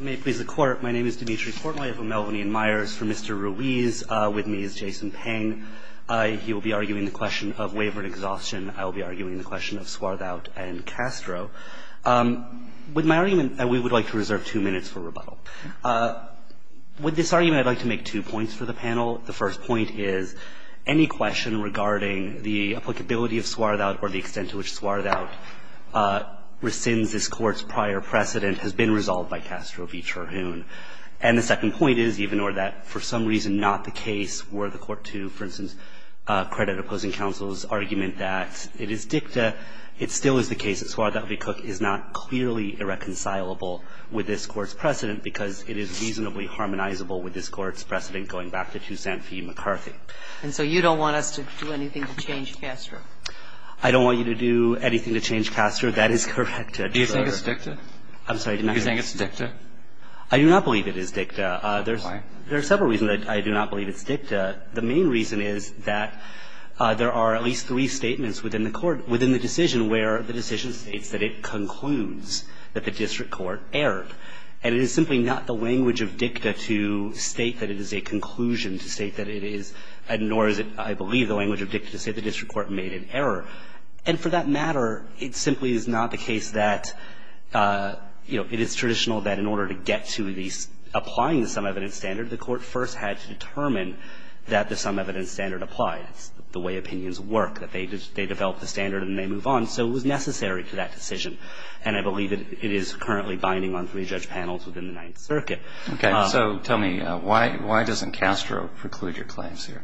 May it please the Court, my name is Dimitri Portnoy. I have a Melvyn Ian Myers for Mr. Ruiz. With me is Jason Peng. He will be arguing the question of waiver and exhaustion. I will be arguing the question of Swarthout and Castro. With my argument, we would like to reserve two minutes for rebuttal. With this argument, I'd like to make two points for the panel. The first point is any question regarding the applicability of Swarthout or the extent to which Swarthout rescinds this Court's prior precedent has been resolved by Castro v. Terhune. And the second point is even or that for some reason not the case were the Court to, for instance, credit opposing counsel's argument that it is dicta, it still is the case that Swarthout v. Cook is not clearly irreconcilable with this Court's precedent because it is reasonably harmonizable with this Court's precedent going back to Toussaint v. McCarthy. And so you don't want us to do anything to change Castro? I don't want you to do anything to change Castro. That is correct. Do you think it's dicta? I'm sorry. Do you think it's dicta? I do not believe it is dicta. Why? There are several reasons I do not believe it's dicta. The main reason is that there are at least three statements within the Court, within the decision, where the decision states that it concludes that the district court erred. And it is simply not the language of dicta to state that it is a conclusion to state that it is, nor is it, I believe, the language of dicta to say the district court made an error. And for that matter, it simply is not the case that, you know, it is traditional that in order to get to the applying the sum evidence standard, the Court first had to determine that the sum evidence standard applied. It's the way opinions work, that they develop the standard and they move on. So it was necessary for that decision. And I believe it is currently binding on three judge panels within the Ninth Circuit. Okay. So tell me, why doesn't Castro preclude your claims here?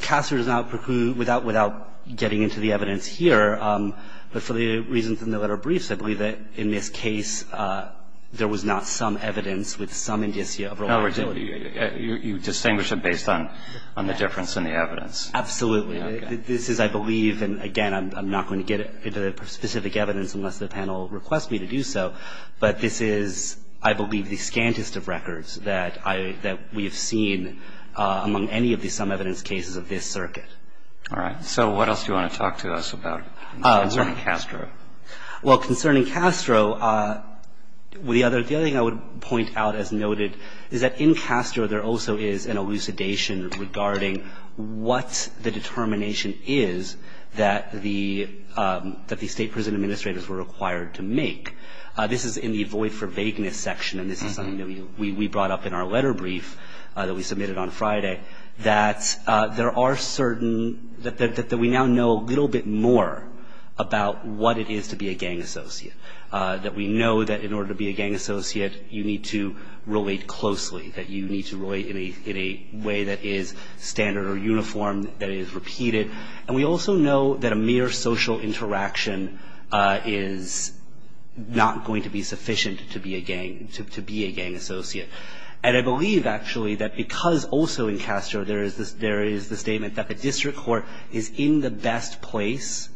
Castro does not preclude, without getting into the evidence here, but for the reasons in the letter briefs, I believe that in this case there was not some evidence with some indicia of reliability. No, you distinguish it based on the difference in the evidence. Absolutely. This is, I believe, and again, I'm not going to get into the specific evidence unless the panel requests me to do so, but this is, I believe, the scantest of records that we have seen among any of the sum evidence cases of this circuit. All right. So what else do you want to talk to us about concerning Castro? Well, concerning Castro, the other thing I would point out as noted is that in Castro there also is an elucidation regarding what the determination is that the State Prison Administrators were required to make. This is in the Void for Vagueness section, and this is something that we brought up in our letter brief that we submitted on Friday, that there are certain, that we now know a little bit more about what it is to be a gang associate, that we know that in order to be a gang associate you need to relate closely, that you need to relate in a way that is standard or uniform, that is repeated. And we also know that a mere social interaction is not going to be sufficient to be a gang associate. And I believe, actually, that because also in Castro there is the statement that the district court is in the best place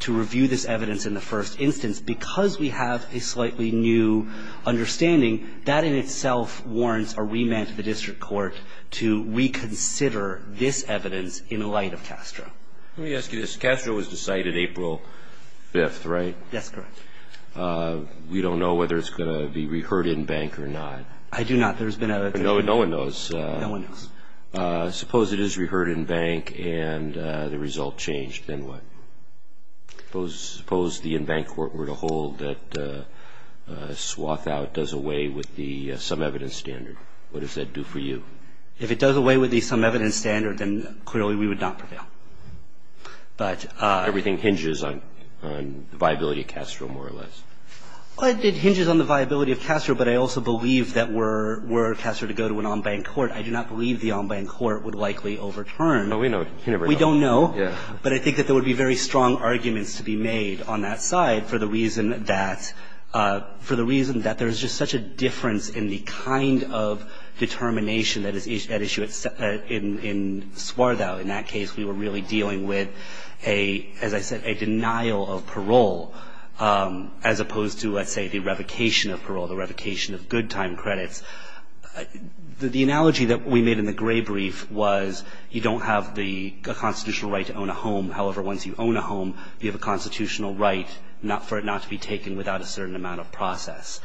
to review this evidence in the first instance, because we have a slightly new understanding, that in itself warrants a remand to the district court to reconsider this evidence in light of Castro. Let me ask you this. Castro was decided April 5th, right? That's correct. We don't know whether it's going to be reheard in bank or not. I do not. There's been evidence. No one knows. No one knows. Suppose it is reheard in bank and the result changed, then what? Suppose the in bank court were to hold that swath out does away with the some evidence standard. What does that do for you? If it does away with the some evidence standard, then clearly we would not prevail. But... Everything hinges on the viability of Castro, more or less. It hinges on the viability of Castro, but I also believe that were Castro to go to an on bank court, I do not believe the on bank court would likely overturn. But we know. We don't know. But I think that there would be very strong arguments to be made on that side for the reason that there's just such a difference in the kind of determination that is at issue in Swarthout. In that case, we were really dealing with a, as I said, a denial of parole as opposed to, let's say, the revocation of parole, the revocation of good time credits. The analogy that we made in the gray brief was you don't have the constitutional right to own a home. However, once you own a home, you have a constitutional right for it not to be taken without a certain amount of process.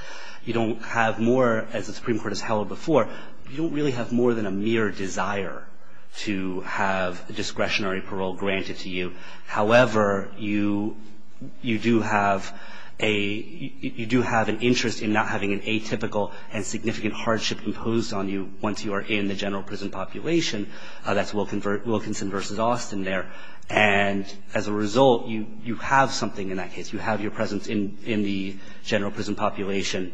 You don't have more, as the Supreme Court has held before, you don't really have more than a mere desire to have discretionary parole granted to you. However, you do have an interest in not having an atypical and significant hardship imposed on you once you are in the general prison population. That's Wilkinson versus Austin there. And as a result, you have something in that case. You have your presence in the general prison population,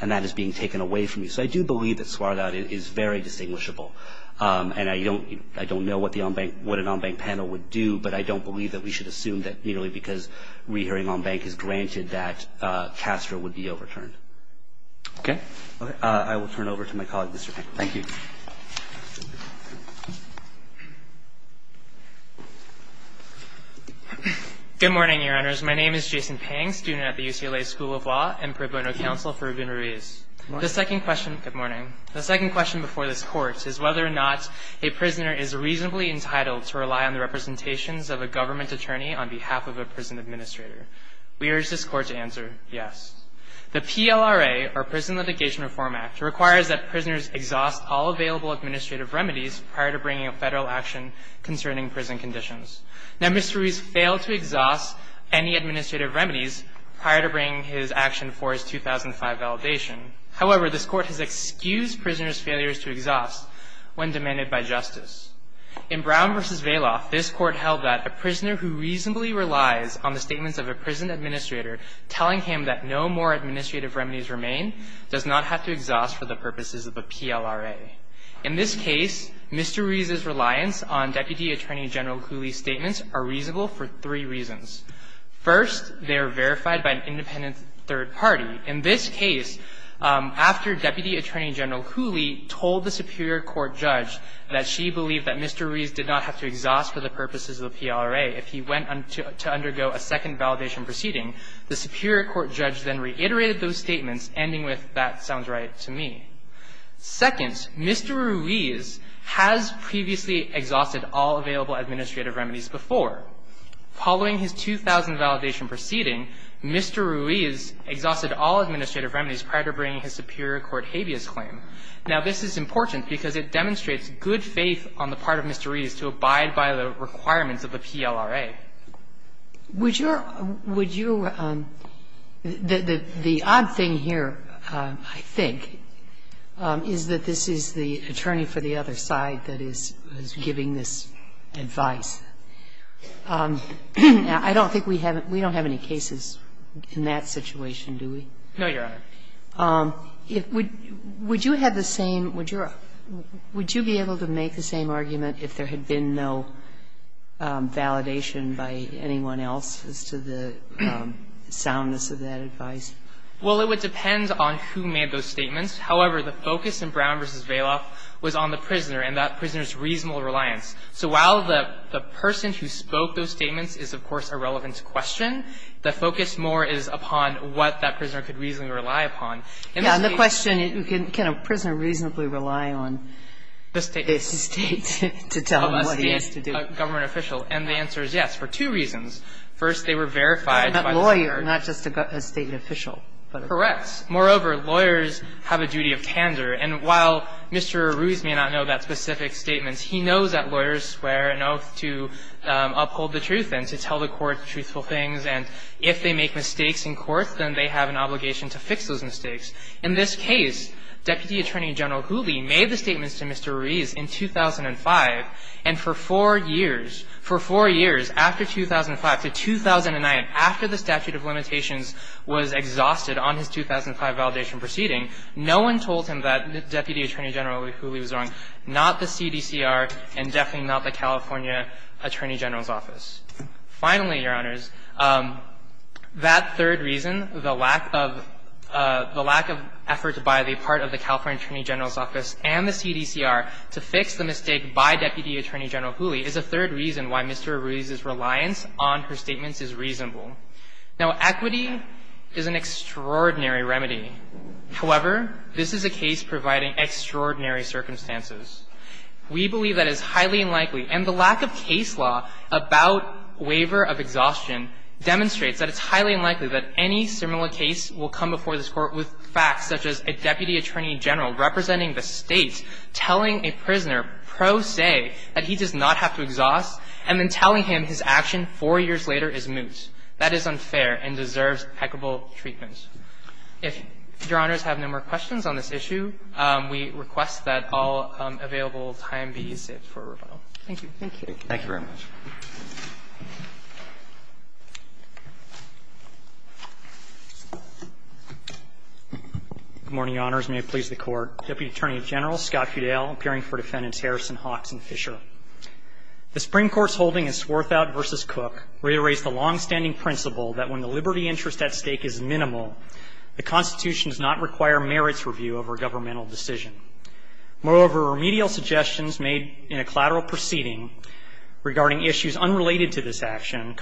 and that is being taken away from you. So I do believe that Swarthout is very distinguishable. And I don't know what the on-bank, what an on-bank panel would do, but I don't believe that we should assume that merely because re-hearing on-bank is granted that CASTRA would be overturned. Okay. I will turn it over to my colleague, Mr. Pink. Thank you. Good morning, Your Honors. My name is Jason Pang, student at the UCLA School of Law and pro bono counsel for Rabin Ruiz. Good morning. The second question before this Court is whether or not a prisoner is reasonably entitled to rely on the representations of a government attorney on behalf of a prison administrator. We urge this Court to answer yes. The PLRA, or Prison Litigation Reform Act, requires that prisoners exhaust all available administrative remedies prior to bringing a Federal action concerning prison conditions. Now, Mr. Ruiz failed to exhaust any administrative remedies prior to bringing his action for his 2005 validation. However, this Court has excused prisoners' failures to exhaust when demanded by justice. In Brown v. Vailoff, this Court held that a prisoner who reasonably relies on the statements of a prison administrator telling him that no more administrative remedies remain does not have to exhaust for the purposes of a PLRA. In this case, Mr. Ruiz's reliance on Deputy Attorney General Cooley's statements are reasonable for three reasons. First, they are verified by an independent third party. In this case, after Deputy Attorney General Cooley told the superior court judge that she believed that Mr. Ruiz did not have to exhaust for the purposes of a PLRA if he went to undergo a second validation proceeding, the superior court judge then reiterated those statements, ending with, that sounds right to me. Second, Mr. Ruiz has previously exhausted all available administrative remedies before. Following his 2000 validation proceeding, Mr. Ruiz exhausted all administrative remedies prior to bringing his superior court habeas claim. Now, this is important because it demonstrates good faith on the part of Mr. Ruiz to abide by the requirements of a PLRA. Sotomayor. Would your – would your – the odd thing here, I think, is that this is the attorney for the other side that is giving this advice. I don't think we have – we don't have any cases in that situation, do we? No, Your Honor. Would you have the same – would you be able to make the same argument if there had been no validation by anyone else as to the soundness of that advice? Well, it would depend on who made those statements. However, the focus in Brown v. Vailoff was on the prisoner and that prisoner's reasonable reliance. So while the person who spoke those statements is, of course, irrelevant to question, the focus more is upon what that prisoner could reasonably rely upon. Yeah, and the question, can a prisoner reasonably rely on the State to tell them what he has to do? A government official. And the answer is yes, for two reasons. First, they were verified by the State. By that lawyer, not just a State official. Correct. Moreover, lawyers have a duty of candor. And while Mr. Ruiz may not know that specific statement, he knows that lawyers swear an oath to uphold the truth and to tell the court truthful things. And if they make mistakes in court, then they have an obligation to fix those mistakes. In this case, Deputy Attorney General Gooley made the statements to Mr. Ruiz in 2005 and for four years, for four years, after 2005 to 2009, after the statute of limitations was exhausted on his 2005 validation proceeding, no one told him that Deputy Attorney General Gooley was wrong, not the CDCR and definitely not the California Attorney General's office. Finally, Your Honors, that third reason, the lack of the lack of effort by the part of the California Attorney General's office and the CDCR to fix the mistake by Deputy Attorney General Gooley is a third reason why Mr. Ruiz's reliance on her statements is reasonable. Now, equity is an extraordinary remedy. However, this is a case providing extraordinary circumstances. We believe that it's highly unlikely, and the lack of case law about waiver of exhaustion demonstrates that it's highly unlikely that any similar case will come before this Court. So, we believe that the lack of effort by the California Attorney General representing the State telling a prisoner pro se that he does not have to exhaust and then telling him his action four years later is moot, that is unfair and deserves equitable treatment. If Your Honors have no more questions on this issue, we request that all available time be saved for rebuttal. Thank you. Roberts. Thank you very much. Good morning, Your Honors. May it please the Court. Deputy Attorney General Scott Fudel, appearing for Defendants Harrison, Hawks and Fisher. The Supreme Court's holding in Swarthout v. Cook reiterates the longstanding principle that when the liberty interest at stake is minimal, the Constitution does not require merits review over a governmental decision. Moreover, remedial suggestions made in a collateral proceeding regarding issues unrelated to this action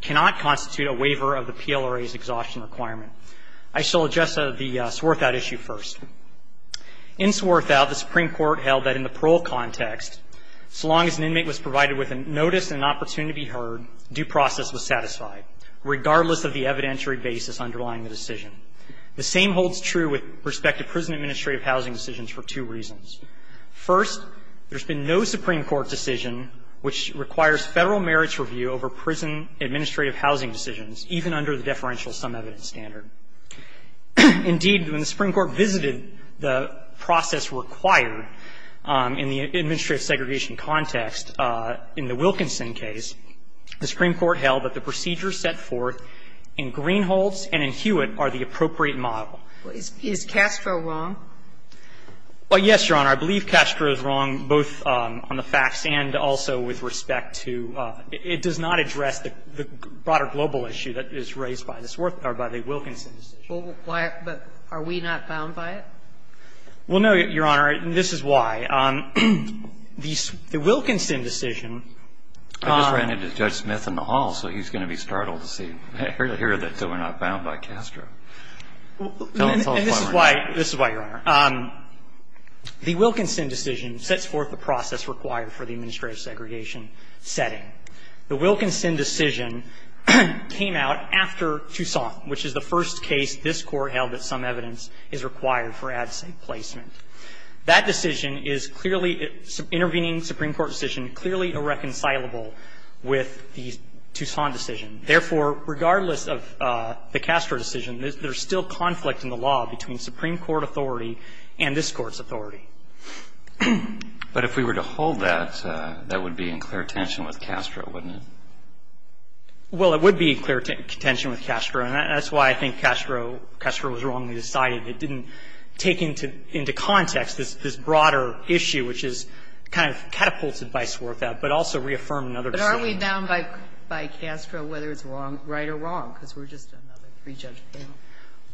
cannot constitute a waiver of the PLRA's exhaustion requirement. I shall address the Swarthout issue first. In Swarthout, the Supreme Court held that in the parole context, so long as an inmate was provided with a notice and an opportunity to be heard, due process was satisfied, regardless of the evidentiary basis underlying the decision. The same holds true with respect to prison administrative housing decisions for two reasons. First, there's been no Supreme Court decision which requires Federal merits review over prison administrative housing decisions, even under the deferential sum evidence standard. Indeed, when the Supreme Court visited the process required in the administrative segregation context, in the Wilkinson case, the Supreme Court held that the procedures set forth in Greenhalghs and in Hewitt are the appropriate model. Sotomayor Is Castro wrong? Feigin Well, yes, Your Honor. I believe Castro is wrong, both on the facts and also with respect to – it does not address the broader global issue that is raised by the Wilkinson decision. Sotomayor But are we not bound by it? Feigin Well, no, Your Honor, and this is why. This is why, Your Honor, the Wilkinson decision sets forth the process required for the administrative segregation setting. The Wilkinson decision came out after Toussaint, which is the first case this Court held that some evidence is required for ad sac placement. That decision is clearly – intervening Supreme Court decision clearly irreconcilable with the Toussaint decision. Therefore, regardless of the Castro decision, there's still conflict in the law between Supreme Court authority and this Court's authority. But if we were to hold that, that would be in clear tension with Castro, wouldn't it? Well, it would be in clear tension with Castro, and that's why I think Castro was wrongly decided. It didn't take into context this broader issue, which is kind of catapulted vice versa, but also reaffirmed in other decisions. Kagan But aren't we down by Castro whether it's right or wrong, because we're just another pre-judge panel? Feigin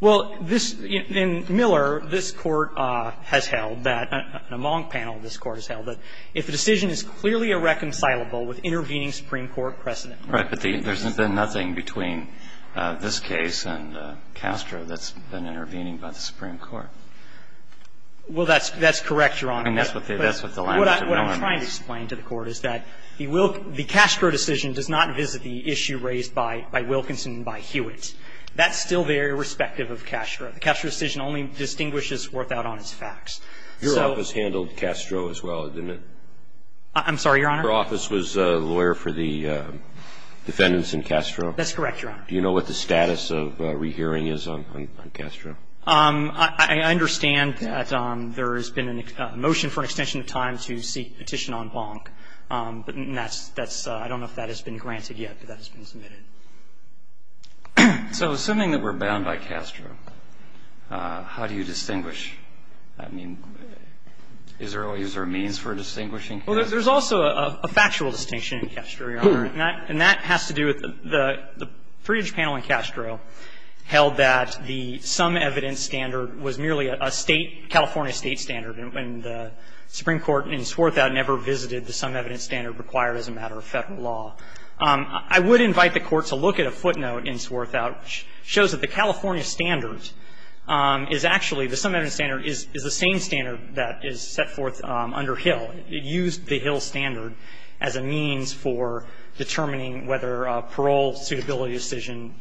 Well, this – in Miller, this Court has held that, in a Monk panel, this Court has held that if the decision is clearly irreconcilable with intervening Supreme Court precedent. Breyer Right, but there's been nothing between this case and Castro that's been intervening by the Supreme Court. Feigin Well, that's correct, Your Honor. Breyer And that's what the language of Miller means. Feigin Well, what I'm trying to explain to the Court is that the Castro decision does not visit the issue raised by Wilkinson and by Hewitt. That's still very respective of Castro. The Castro decision only distinguishes without honest facts. So – Roberts Your office handled Castro as well, didn't it? Feigin I'm sorry, Your Honor? Roberts Your office was a lawyer for the defendants in Castro? Feigin That's correct, Your Honor. Roberts Do you know what the status of rehearing is on Castro? Feigin I understand that there has been a motion for an extension of time to seek petition on Bonk, but that's – I don't know if that has been granted yet, but that has been submitted. Breyer So assuming that we're bound by Castro, how do you distinguish? I mean, is there a means for distinguishing? Feigin Well, there's also a factual distinction in Castro, Your Honor. And that has to do with the pre-judge panel in Castro held that the sum evidence standard was merely a State – California State standard, and the Supreme Court in Swarthout never visited the sum evidence standard required as a matter of Federal law. I would invite the Court to look at a footnote in Swarthout which shows that the California standard is actually – the sum evidence standard is the same standard that is set forth under Hill. It used the Hill standard as a means for determining whether a parole suitability decision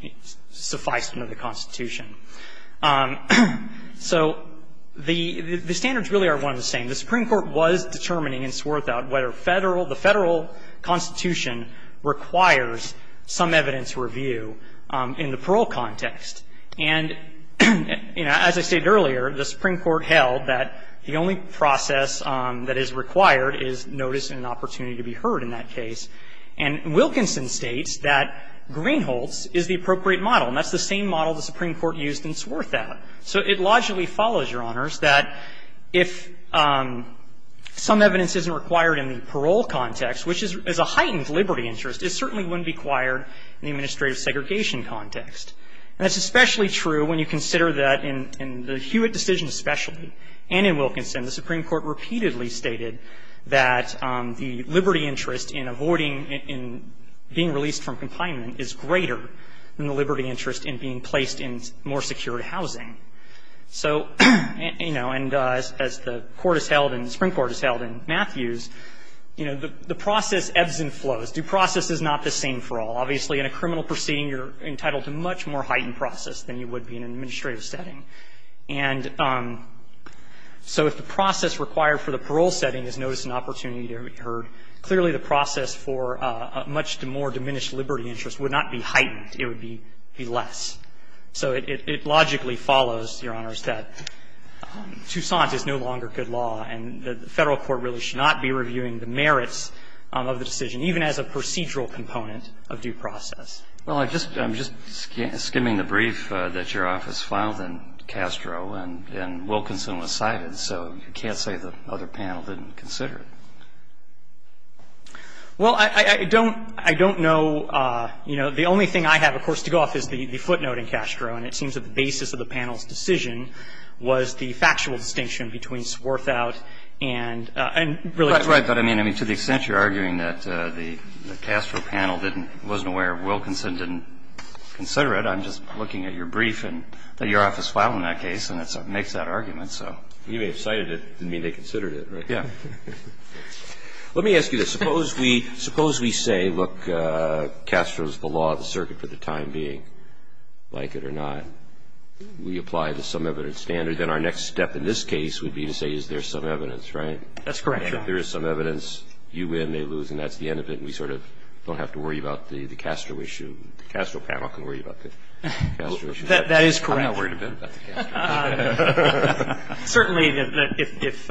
sufficed under the Constitution. So the standards really are one and the same. The Supreme Court was determining in Swarthout whether Federal – the Federal Constitution requires sum evidence review in the parole context. And, you know, as I stated earlier, the Supreme Court held that the only process that is required is notice and an opportunity to be heard in that case. And Wilkinson states that Greenholz is the appropriate model, and that's the same model the Supreme Court used in Swarthout. So it logically follows, Your Honors, that if sum evidence isn't required in the parole context, which is a heightened liberty interest, it certainly wouldn't be required in the administrative segregation context. And that's especially true when you consider that in the Hewitt decision especially and in Wilkinson, the Supreme Court repeatedly stated that the liberty interest in avoiding – in being released from confinement is greater than the liberty interest in being placed in more secured housing. So, you know, and as the Court has held and the Supreme Court has held in Matthews, you know, the process ebbs and flows. Due process is not the same for all. Obviously, in a criminal proceeding, you're entitled to much more heightened process than you would be in an administrative setting. And so if the process required for the parole setting is notice and opportunity to be heard, clearly the process for a much more diminished liberty interest would not be heightened. It would be less. So it logically follows, Your Honors, that Toussaint is no longer good law, and the Federal court really should not be reviewing the merits of the decision, even as a procedural component of due process. Well, I'm just skimming the brief that your office filed, and Castro and Wilkinson decided, so you can't say the other panel didn't consider it. Well, I don't – I don't know, you know, the only thing I have, of course, to go off is the footnote in Castro, and it seems that the basis of the panel's decision was the factual distinction between Swarthout and – and really – Right. But, I mean, to the extent you're arguing that the Castro panel didn't – wasn't aware, Wilkinson didn't consider it, I'm just looking at your brief and that your You may have cited it, didn't mean they considered it, right? Yeah. Let me ask you this. Suppose we – suppose we say, look, Castro's the law of the circuit for the time being, like it or not. We apply the some evidence standard, then our next step in this case would be to say, is there some evidence, right? That's correct, Your Honors. If there is some evidence, you win, they lose, and that's the end of it, and we sort of don't have to worry about the Castro issue. The Castro panel can worry about the Castro issue. That is correct. I'm not worried a bit about the Castro issue. Certainly, if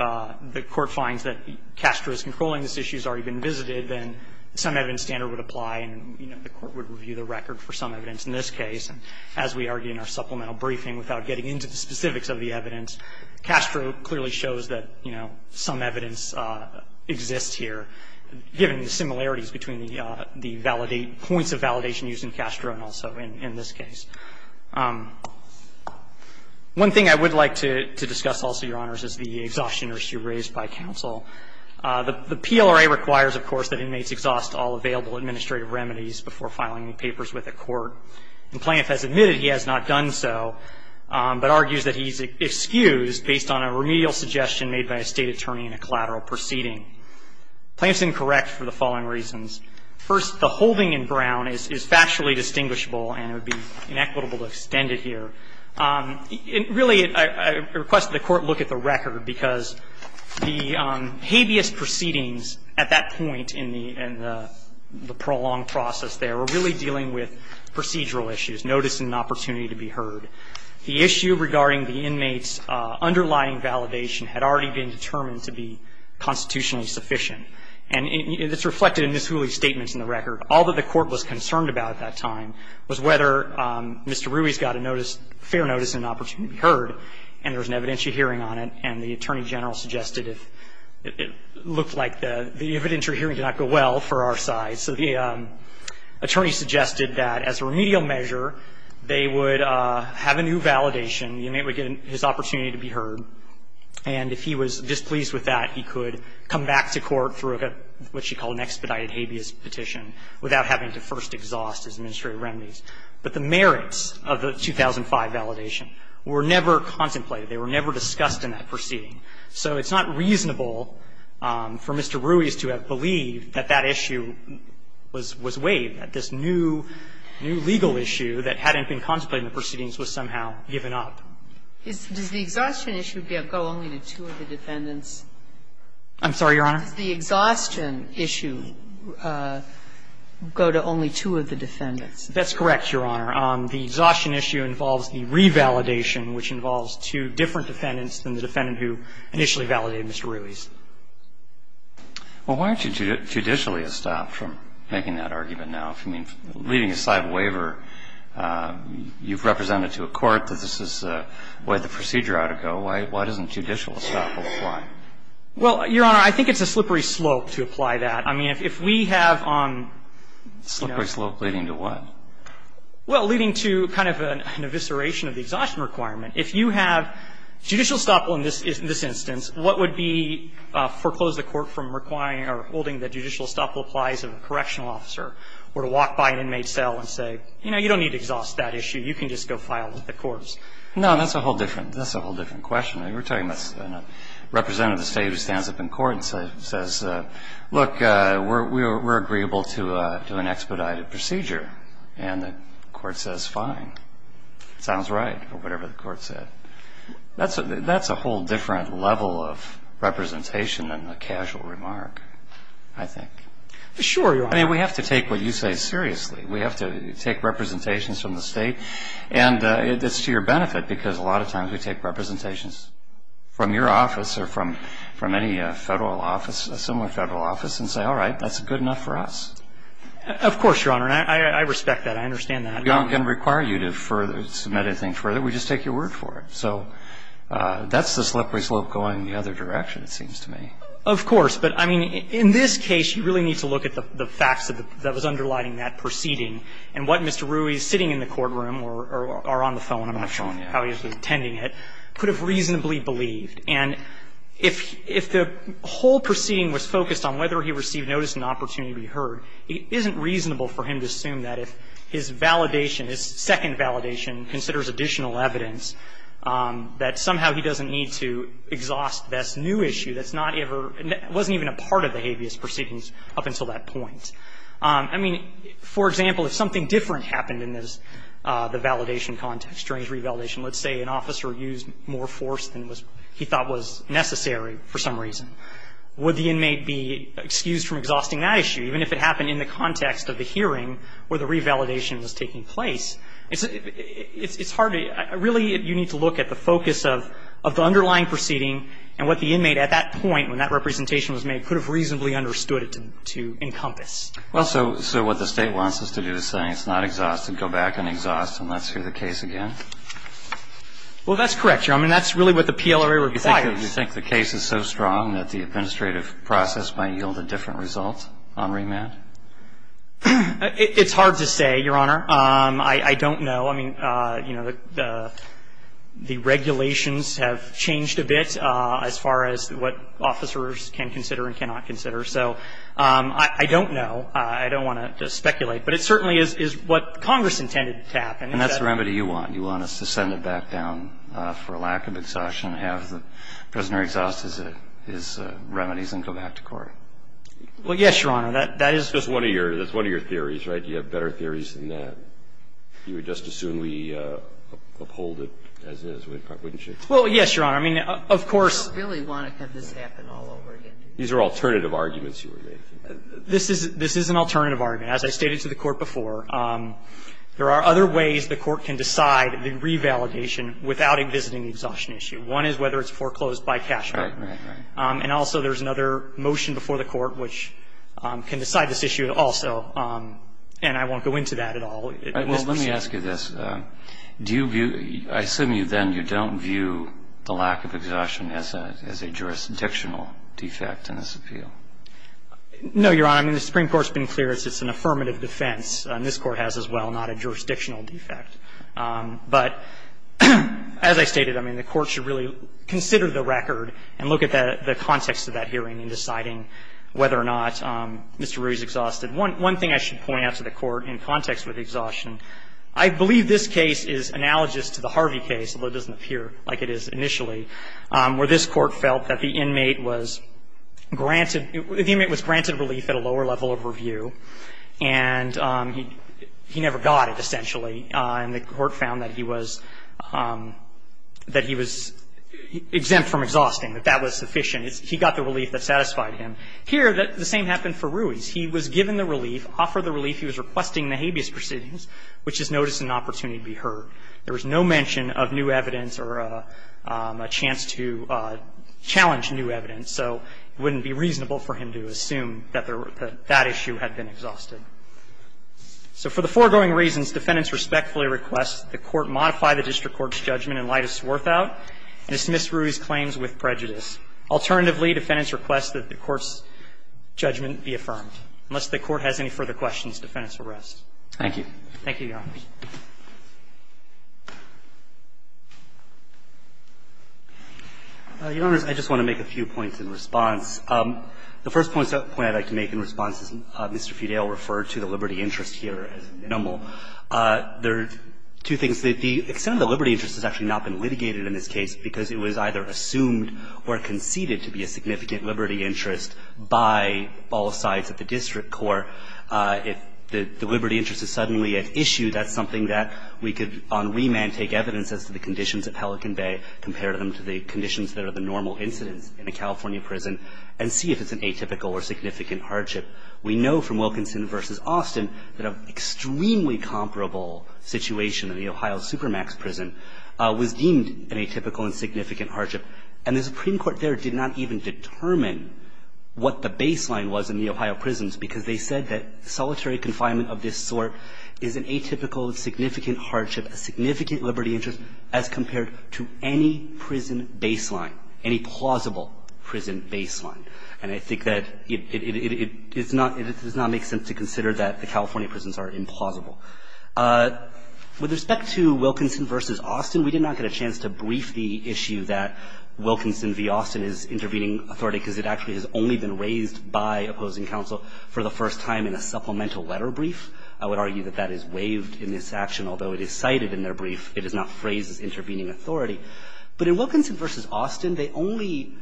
the court finds that Castro is controlling this issue, has already been visited, then some evidence standard would apply and, you know, the court would review the record for some evidence in this case. And as we argue in our supplemental briefing without getting into the specifics of the evidence, Castro clearly shows that, you know, some evidence exists here, given the similarities between the points of validation used in Castro and also in this case. One thing I would like to discuss also, Your Honors, is the exhaustion issue raised by counsel. The PLRA requires, of course, that inmates exhaust all available administrative remedies before filing any papers with the court. And Plaintiff has admitted he has not done so, but argues that he's excused based on a remedial suggestion made by a State attorney in a collateral proceeding. Plaintiff's incorrect for the following reasons. First, the holding in Brown is factually distinguishable, and it would be inequitable to extend it here. Really, I request that the court look at the record, because the habeas proceedings at that point in the prolonged process there were really dealing with procedural issues, notice and opportunity to be heard. The issue regarding the inmate's underlying validation had already been determined to be constitutionally sufficient. And it's reflected in Ms. Hooley's statements in the record. All that the court was concerned about at that time was whether Mr. Ruiz got a notice, fair notice and opportunity to be heard, and there was an evidentiary hearing on it, and the Attorney General suggested it looked like the evidentiary hearing did not go well for our side. So the attorney suggested that as a remedial measure, they would have a new validation. The inmate would get his opportunity to be heard, and if he was displeased with that, he could come back to court through what she called an expedited habeas petition without having to first exhaust his administrative remedies. But the merits of the 2005 validation were never contemplated. They were never discussed in that proceeding. So it's not reasonable for Mr. Ruiz to have believed that that issue was waived, that this new legal issue that hadn't been contemplated in the proceedings was somehow given up. Does the exhaustion issue go only to two of the defendants? I'm sorry, Your Honor? Does the exhaustion issue go to only two of the defendants? That's correct, Your Honor. The exhaustion issue involves the revalidation, which involves two different defendants than the defendant who initially validated Mr. Ruiz. Well, why aren't you judicially astounded from making that argument now? I mean, leaving aside waiver, you've represented to a court that this is the way the procedure ought to go. Why doesn't judicial estoppel apply? Well, Your Honor, I think it's a slippery slope to apply that. I mean, if we have on, you know ---- Slippery slope leading to what? Well, leading to kind of an evisceration of the exhaustion requirement. If you have judicial estoppel in this instance, what would be to foreclose the court from requiring or holding that judicial estoppel applies to the correctional process? I mean, we can't just go out and walk by an inmate's cell and say, you know, you don't need to exhaust that issue. You can just go file with the courts. No, that's a whole different ---- that's a whole different question. I mean, we're talking about a representative of the state who stands up in court and says, look, we're agreeable to an expedited procedure. And the court says fine, sounds right, or whatever the court said. That's a whole different level of representation than the casual remark, I think. Sure, Your Honor. I mean, we have to take what you say seriously. We have to take representations from the state. And it's to your benefit, because a lot of times we take representations from your office or from any federal office, a similar federal office, and say, all right, that's good enough for us. Of course, Your Honor. I respect that. I understand that. We don't require you to submit anything further. We just take your word for it. So that's the slippery slope going the other direction, it seems to me. Of course. But, I mean, in this case, you really need to look at the facts that was underlining that proceeding. And what Mr. Ruiz, sitting in the courtroom or on the phone, I'm not sure how he was attending it, could have reasonably believed. And if the whole proceeding was focused on whether he received notice and opportunity to be heard, it isn't reasonable for him to assume that if his validation, his second validation, considers additional evidence, that somehow he doesn't need to exhaust this new issue that's not ever – that wasn't even a part of the habeas proceedings up until that point. I mean, for example, if something different happened in this, the validation context, during the revalidation, let's say an officer used more force than he thought was necessary for some reason, would the inmate be excused from exhausting that issue, even if it happened in the context of the hearing where the revalidation was taking place? It's hard to – really, you need to look at the focus of the underlying proceeding and what the inmate, at that point, when that representation was made, could have reasonably understood it to encompass. Well, so what the State wants us to do is say it's not exhaustive, go back and exhaust, and let's hear the case again? Well, that's correct, Your Honor. I mean, that's really what the PLRA requires. Do you think the case is so strong that the administrative process might yield a different result on remand? It's hard to say, Your Honor. I don't know. I mean, you know, the regulations have changed a bit as far as what officers can consider and cannot consider. So I don't know. I don't want to speculate. But it certainly is what Congress intended to happen. And that's the remedy you want. You want us to send it back down for a lack of exhaustion, have the prisoner exhaust his remedies, and go back to court? Well, yes, Your Honor. That is – That's one of your theories, right? You have better theories than that. You would just as soon uphold it as is, wouldn't you? Well, yes, Your Honor. I mean, of course – We don't really want to have this happen all over again. These are alternative arguments you are making. This is an alternative argument. As I stated to the Court before, there are other ways the Court can decide the revalidation without invisiting the exhaustion issue. One is whether it's foreclosed by cashback. Right, right, right. And also there's another motion before the Court which can decide this issue also. And I won't go into that at all. Well, let me ask you this. Do you view – I assume then you don't view the lack of exhaustion as a jurisdictional defect in this appeal? No, Your Honor. I mean, the Supreme Court has been clear it's an affirmative defense. And this Court has as well, not a jurisdictional defect. But as I stated, I mean, the Court should really consider the record and look at the context of that hearing in deciding whether or not Mr. Ruiz exhausted. One thing I should point out to the Court in context with exhaustion, I believe this case is analogous to the Harvey case, although it doesn't appear like it is initially, where this Court felt that the inmate was granted – the inmate was granted relief at a lower level of review. And he never got it, essentially. And the Court found that he was – that he was exempt from exhausting, that that was sufficient. He got the relief that satisfied him. Here, the same happened for Ruiz. He was given the relief, offered the relief. He was requesting the habeas proceedings, which is notice and opportunity to be heard. There was no mention of new evidence or a chance to challenge new evidence. So it wouldn't be reasonable for him to assume that that issue had been exhausted. So for the foregoing reasons, defendants respectfully request that the Court modify the district court's judgment in light of Swarthout and dismiss Ruiz's claims with prejudice. Alternatively, defendants request that the court's judgment be affirmed. Unless the Court has any further questions, defendants will rest. Roberts. Thank you, Your Honors. Your Honors, I just want to make a few points in response. The first point I'd like to make in response is Mr. Fidele referred to the liberty interest here as numble. There are two things. The extent of the liberty interest has actually not been litigated in this case because it was either assumed or conceded to be a significant liberty interest by all sides at the district court. If the liberty interest is suddenly at issue, that's something that we could on remand take evidence as to the conditions at Pelican Bay, compare them to the conditions that are the normal incidents in a California prison, and see if it's an atypical or significant hardship. We know from Wilkinson v. Austin that an extremely comparable situation in the Ohio Supermax prison was deemed an atypical and significant hardship. And the Supreme Court there did not even determine what the baseline was in the Ohio prisons because they said that solitary confinement of this sort is an atypical, significant hardship, a significant liberty interest as compared to any prison baseline, any plausible prison baseline. And I think that it is not – it does not make sense to consider that the California prisons are implausible. With respect to Wilkinson v. Austin, we did not get a chance to brief the issue that Wilkinson v. Austin is intervening authority because it actually has only been raised by opposing counsel for the first time in a supplemental letter brief. I would argue that that is waived in this action, although it is cited in their brief. It is not phrased as intervening authority. But in Wilkinson v. Austin, they only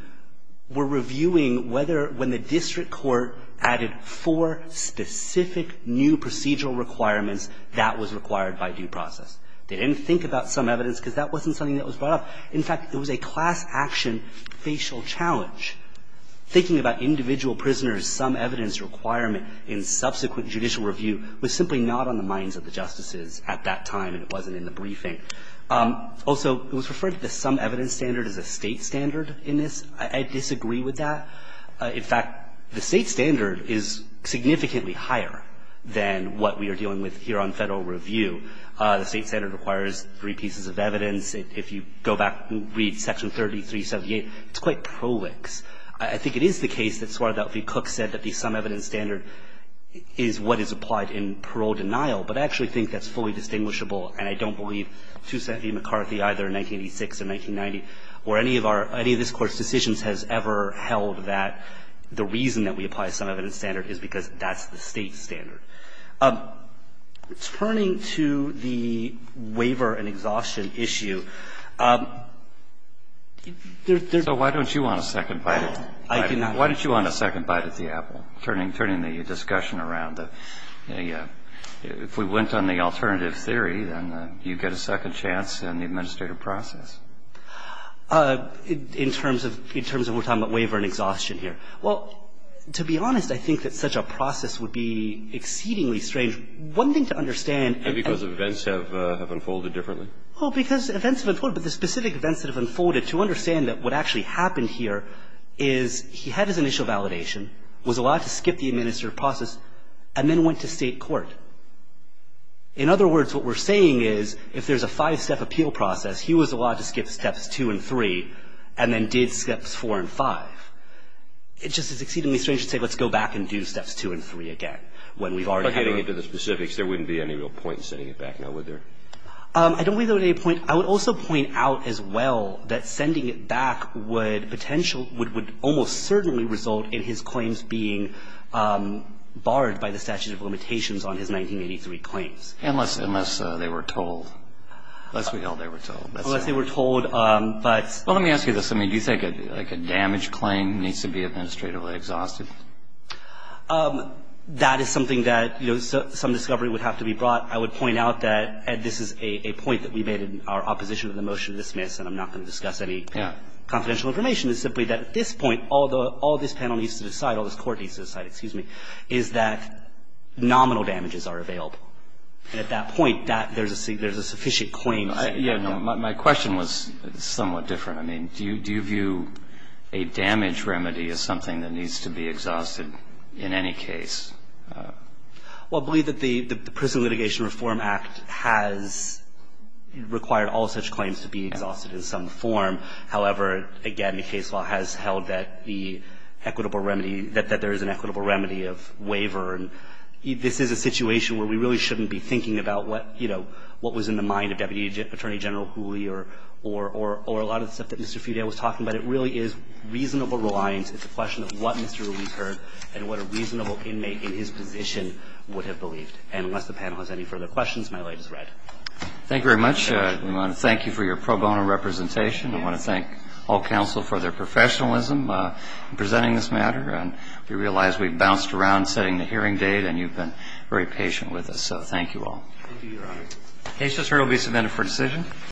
were reviewing whether – when the district court added four specific new procedural requirements, that was required by due process. They didn't think about some evidence because that wasn't something that was brought up. In fact, it was a class action facial challenge. Thinking about individual prisoners' sum evidence requirement in subsequent judicial review was simply not on the minds of the justices at that time, and it wasn't in the briefing. Also, it was referred to the sum evidence standard as a State standard in this. I disagree with that. In fact, the State standard is significantly higher than what we are dealing with here on Federal review. The State standard requires three pieces of evidence. If you go back and read Section 3378, it's quite prolix. I think it is the case that Suarez L. V. Cook said that the sum evidence standard is what is applied in parole denial, but I actually think that's fully distinguishable, and I don't believe, to Sandy McCarthy, either in 1986 or 1990, or any of our – any of this Court's decisions has ever held that the reason that we apply sum evidence standard is because that's the State standard. Turning to the waiver and exhaustion issue, there's the – So why don't you want a second bite at the apple, turning the discussion around? If we went on the alternative theory, then you get a second chance in the administrative process. In terms of what I'm talking about, waiver and exhaustion here. Well, to be honest, I think that such a process would be exceedingly strange. One thing to understand – And because events have unfolded differently? Well, because events have unfolded, but the specific events that have unfolded, to understand that what actually happened here is he had his initial validation, was allowed to skip the administrative process, and then went to State court. In other words, what we're saying is if there's a five-step appeal process, he was allowed to skip steps two and three, and then did steps four and five. It just is exceedingly strange to say, let's go back and do steps two and three again, when we've already had a – But getting into the specifics, there wouldn't be any real point in sending it back, now, would there? I don't believe there would be a point. I would also point out, as well, that sending it back would potentially – would almost certainly result in his claims being barred by the statute of limitations on his 1983 claims. Unless they were told. Unless we know they were told. Unless they were told, but – Well, let me ask you this. I mean, do you think, like, a damage claim needs to be administratively exhausted? That is something that, you know, some discovery would have to be brought. I would point out that, Ed, this is a point that we made in our opposition to the motion to dismiss, and I'm not going to discuss any confidential information. It's simply that, at this point, all the – all this panel needs to decide, all this court needs to decide, excuse me, is that nominal damages are available. And at that point, that – there's a – there's a sufficient claim. Yeah, no, my question was somewhat different. I mean, do you view a damage remedy as something that needs to be exhausted in any case? Well, I believe that the Prison Litigation Reform Act has required all such claims to be exhausted in some form. However, again, the case law has held that the equitable remedy – that there is an equitable remedy of waiver. And this is a situation where we really shouldn't be thinking about what, you know, what was in the mind of Deputy Attorney General Hooley or a lot of the stuff that Mr. Fugate was talking about. It really is reasonable reliance. It's a question of what Mr. Hooley heard and what a reasonable inmate in his position would have believed. And unless the panel has any further questions, my light is red. Thank you very much. We want to thank you for your pro bono representation. We want to thank all counsel for their professionalism in presenting this matter. And we realize we bounced around setting the hearing date, and you've been very patient with us. So thank you all. Thank you, Your Honor. The case just heard will be submitted for decision.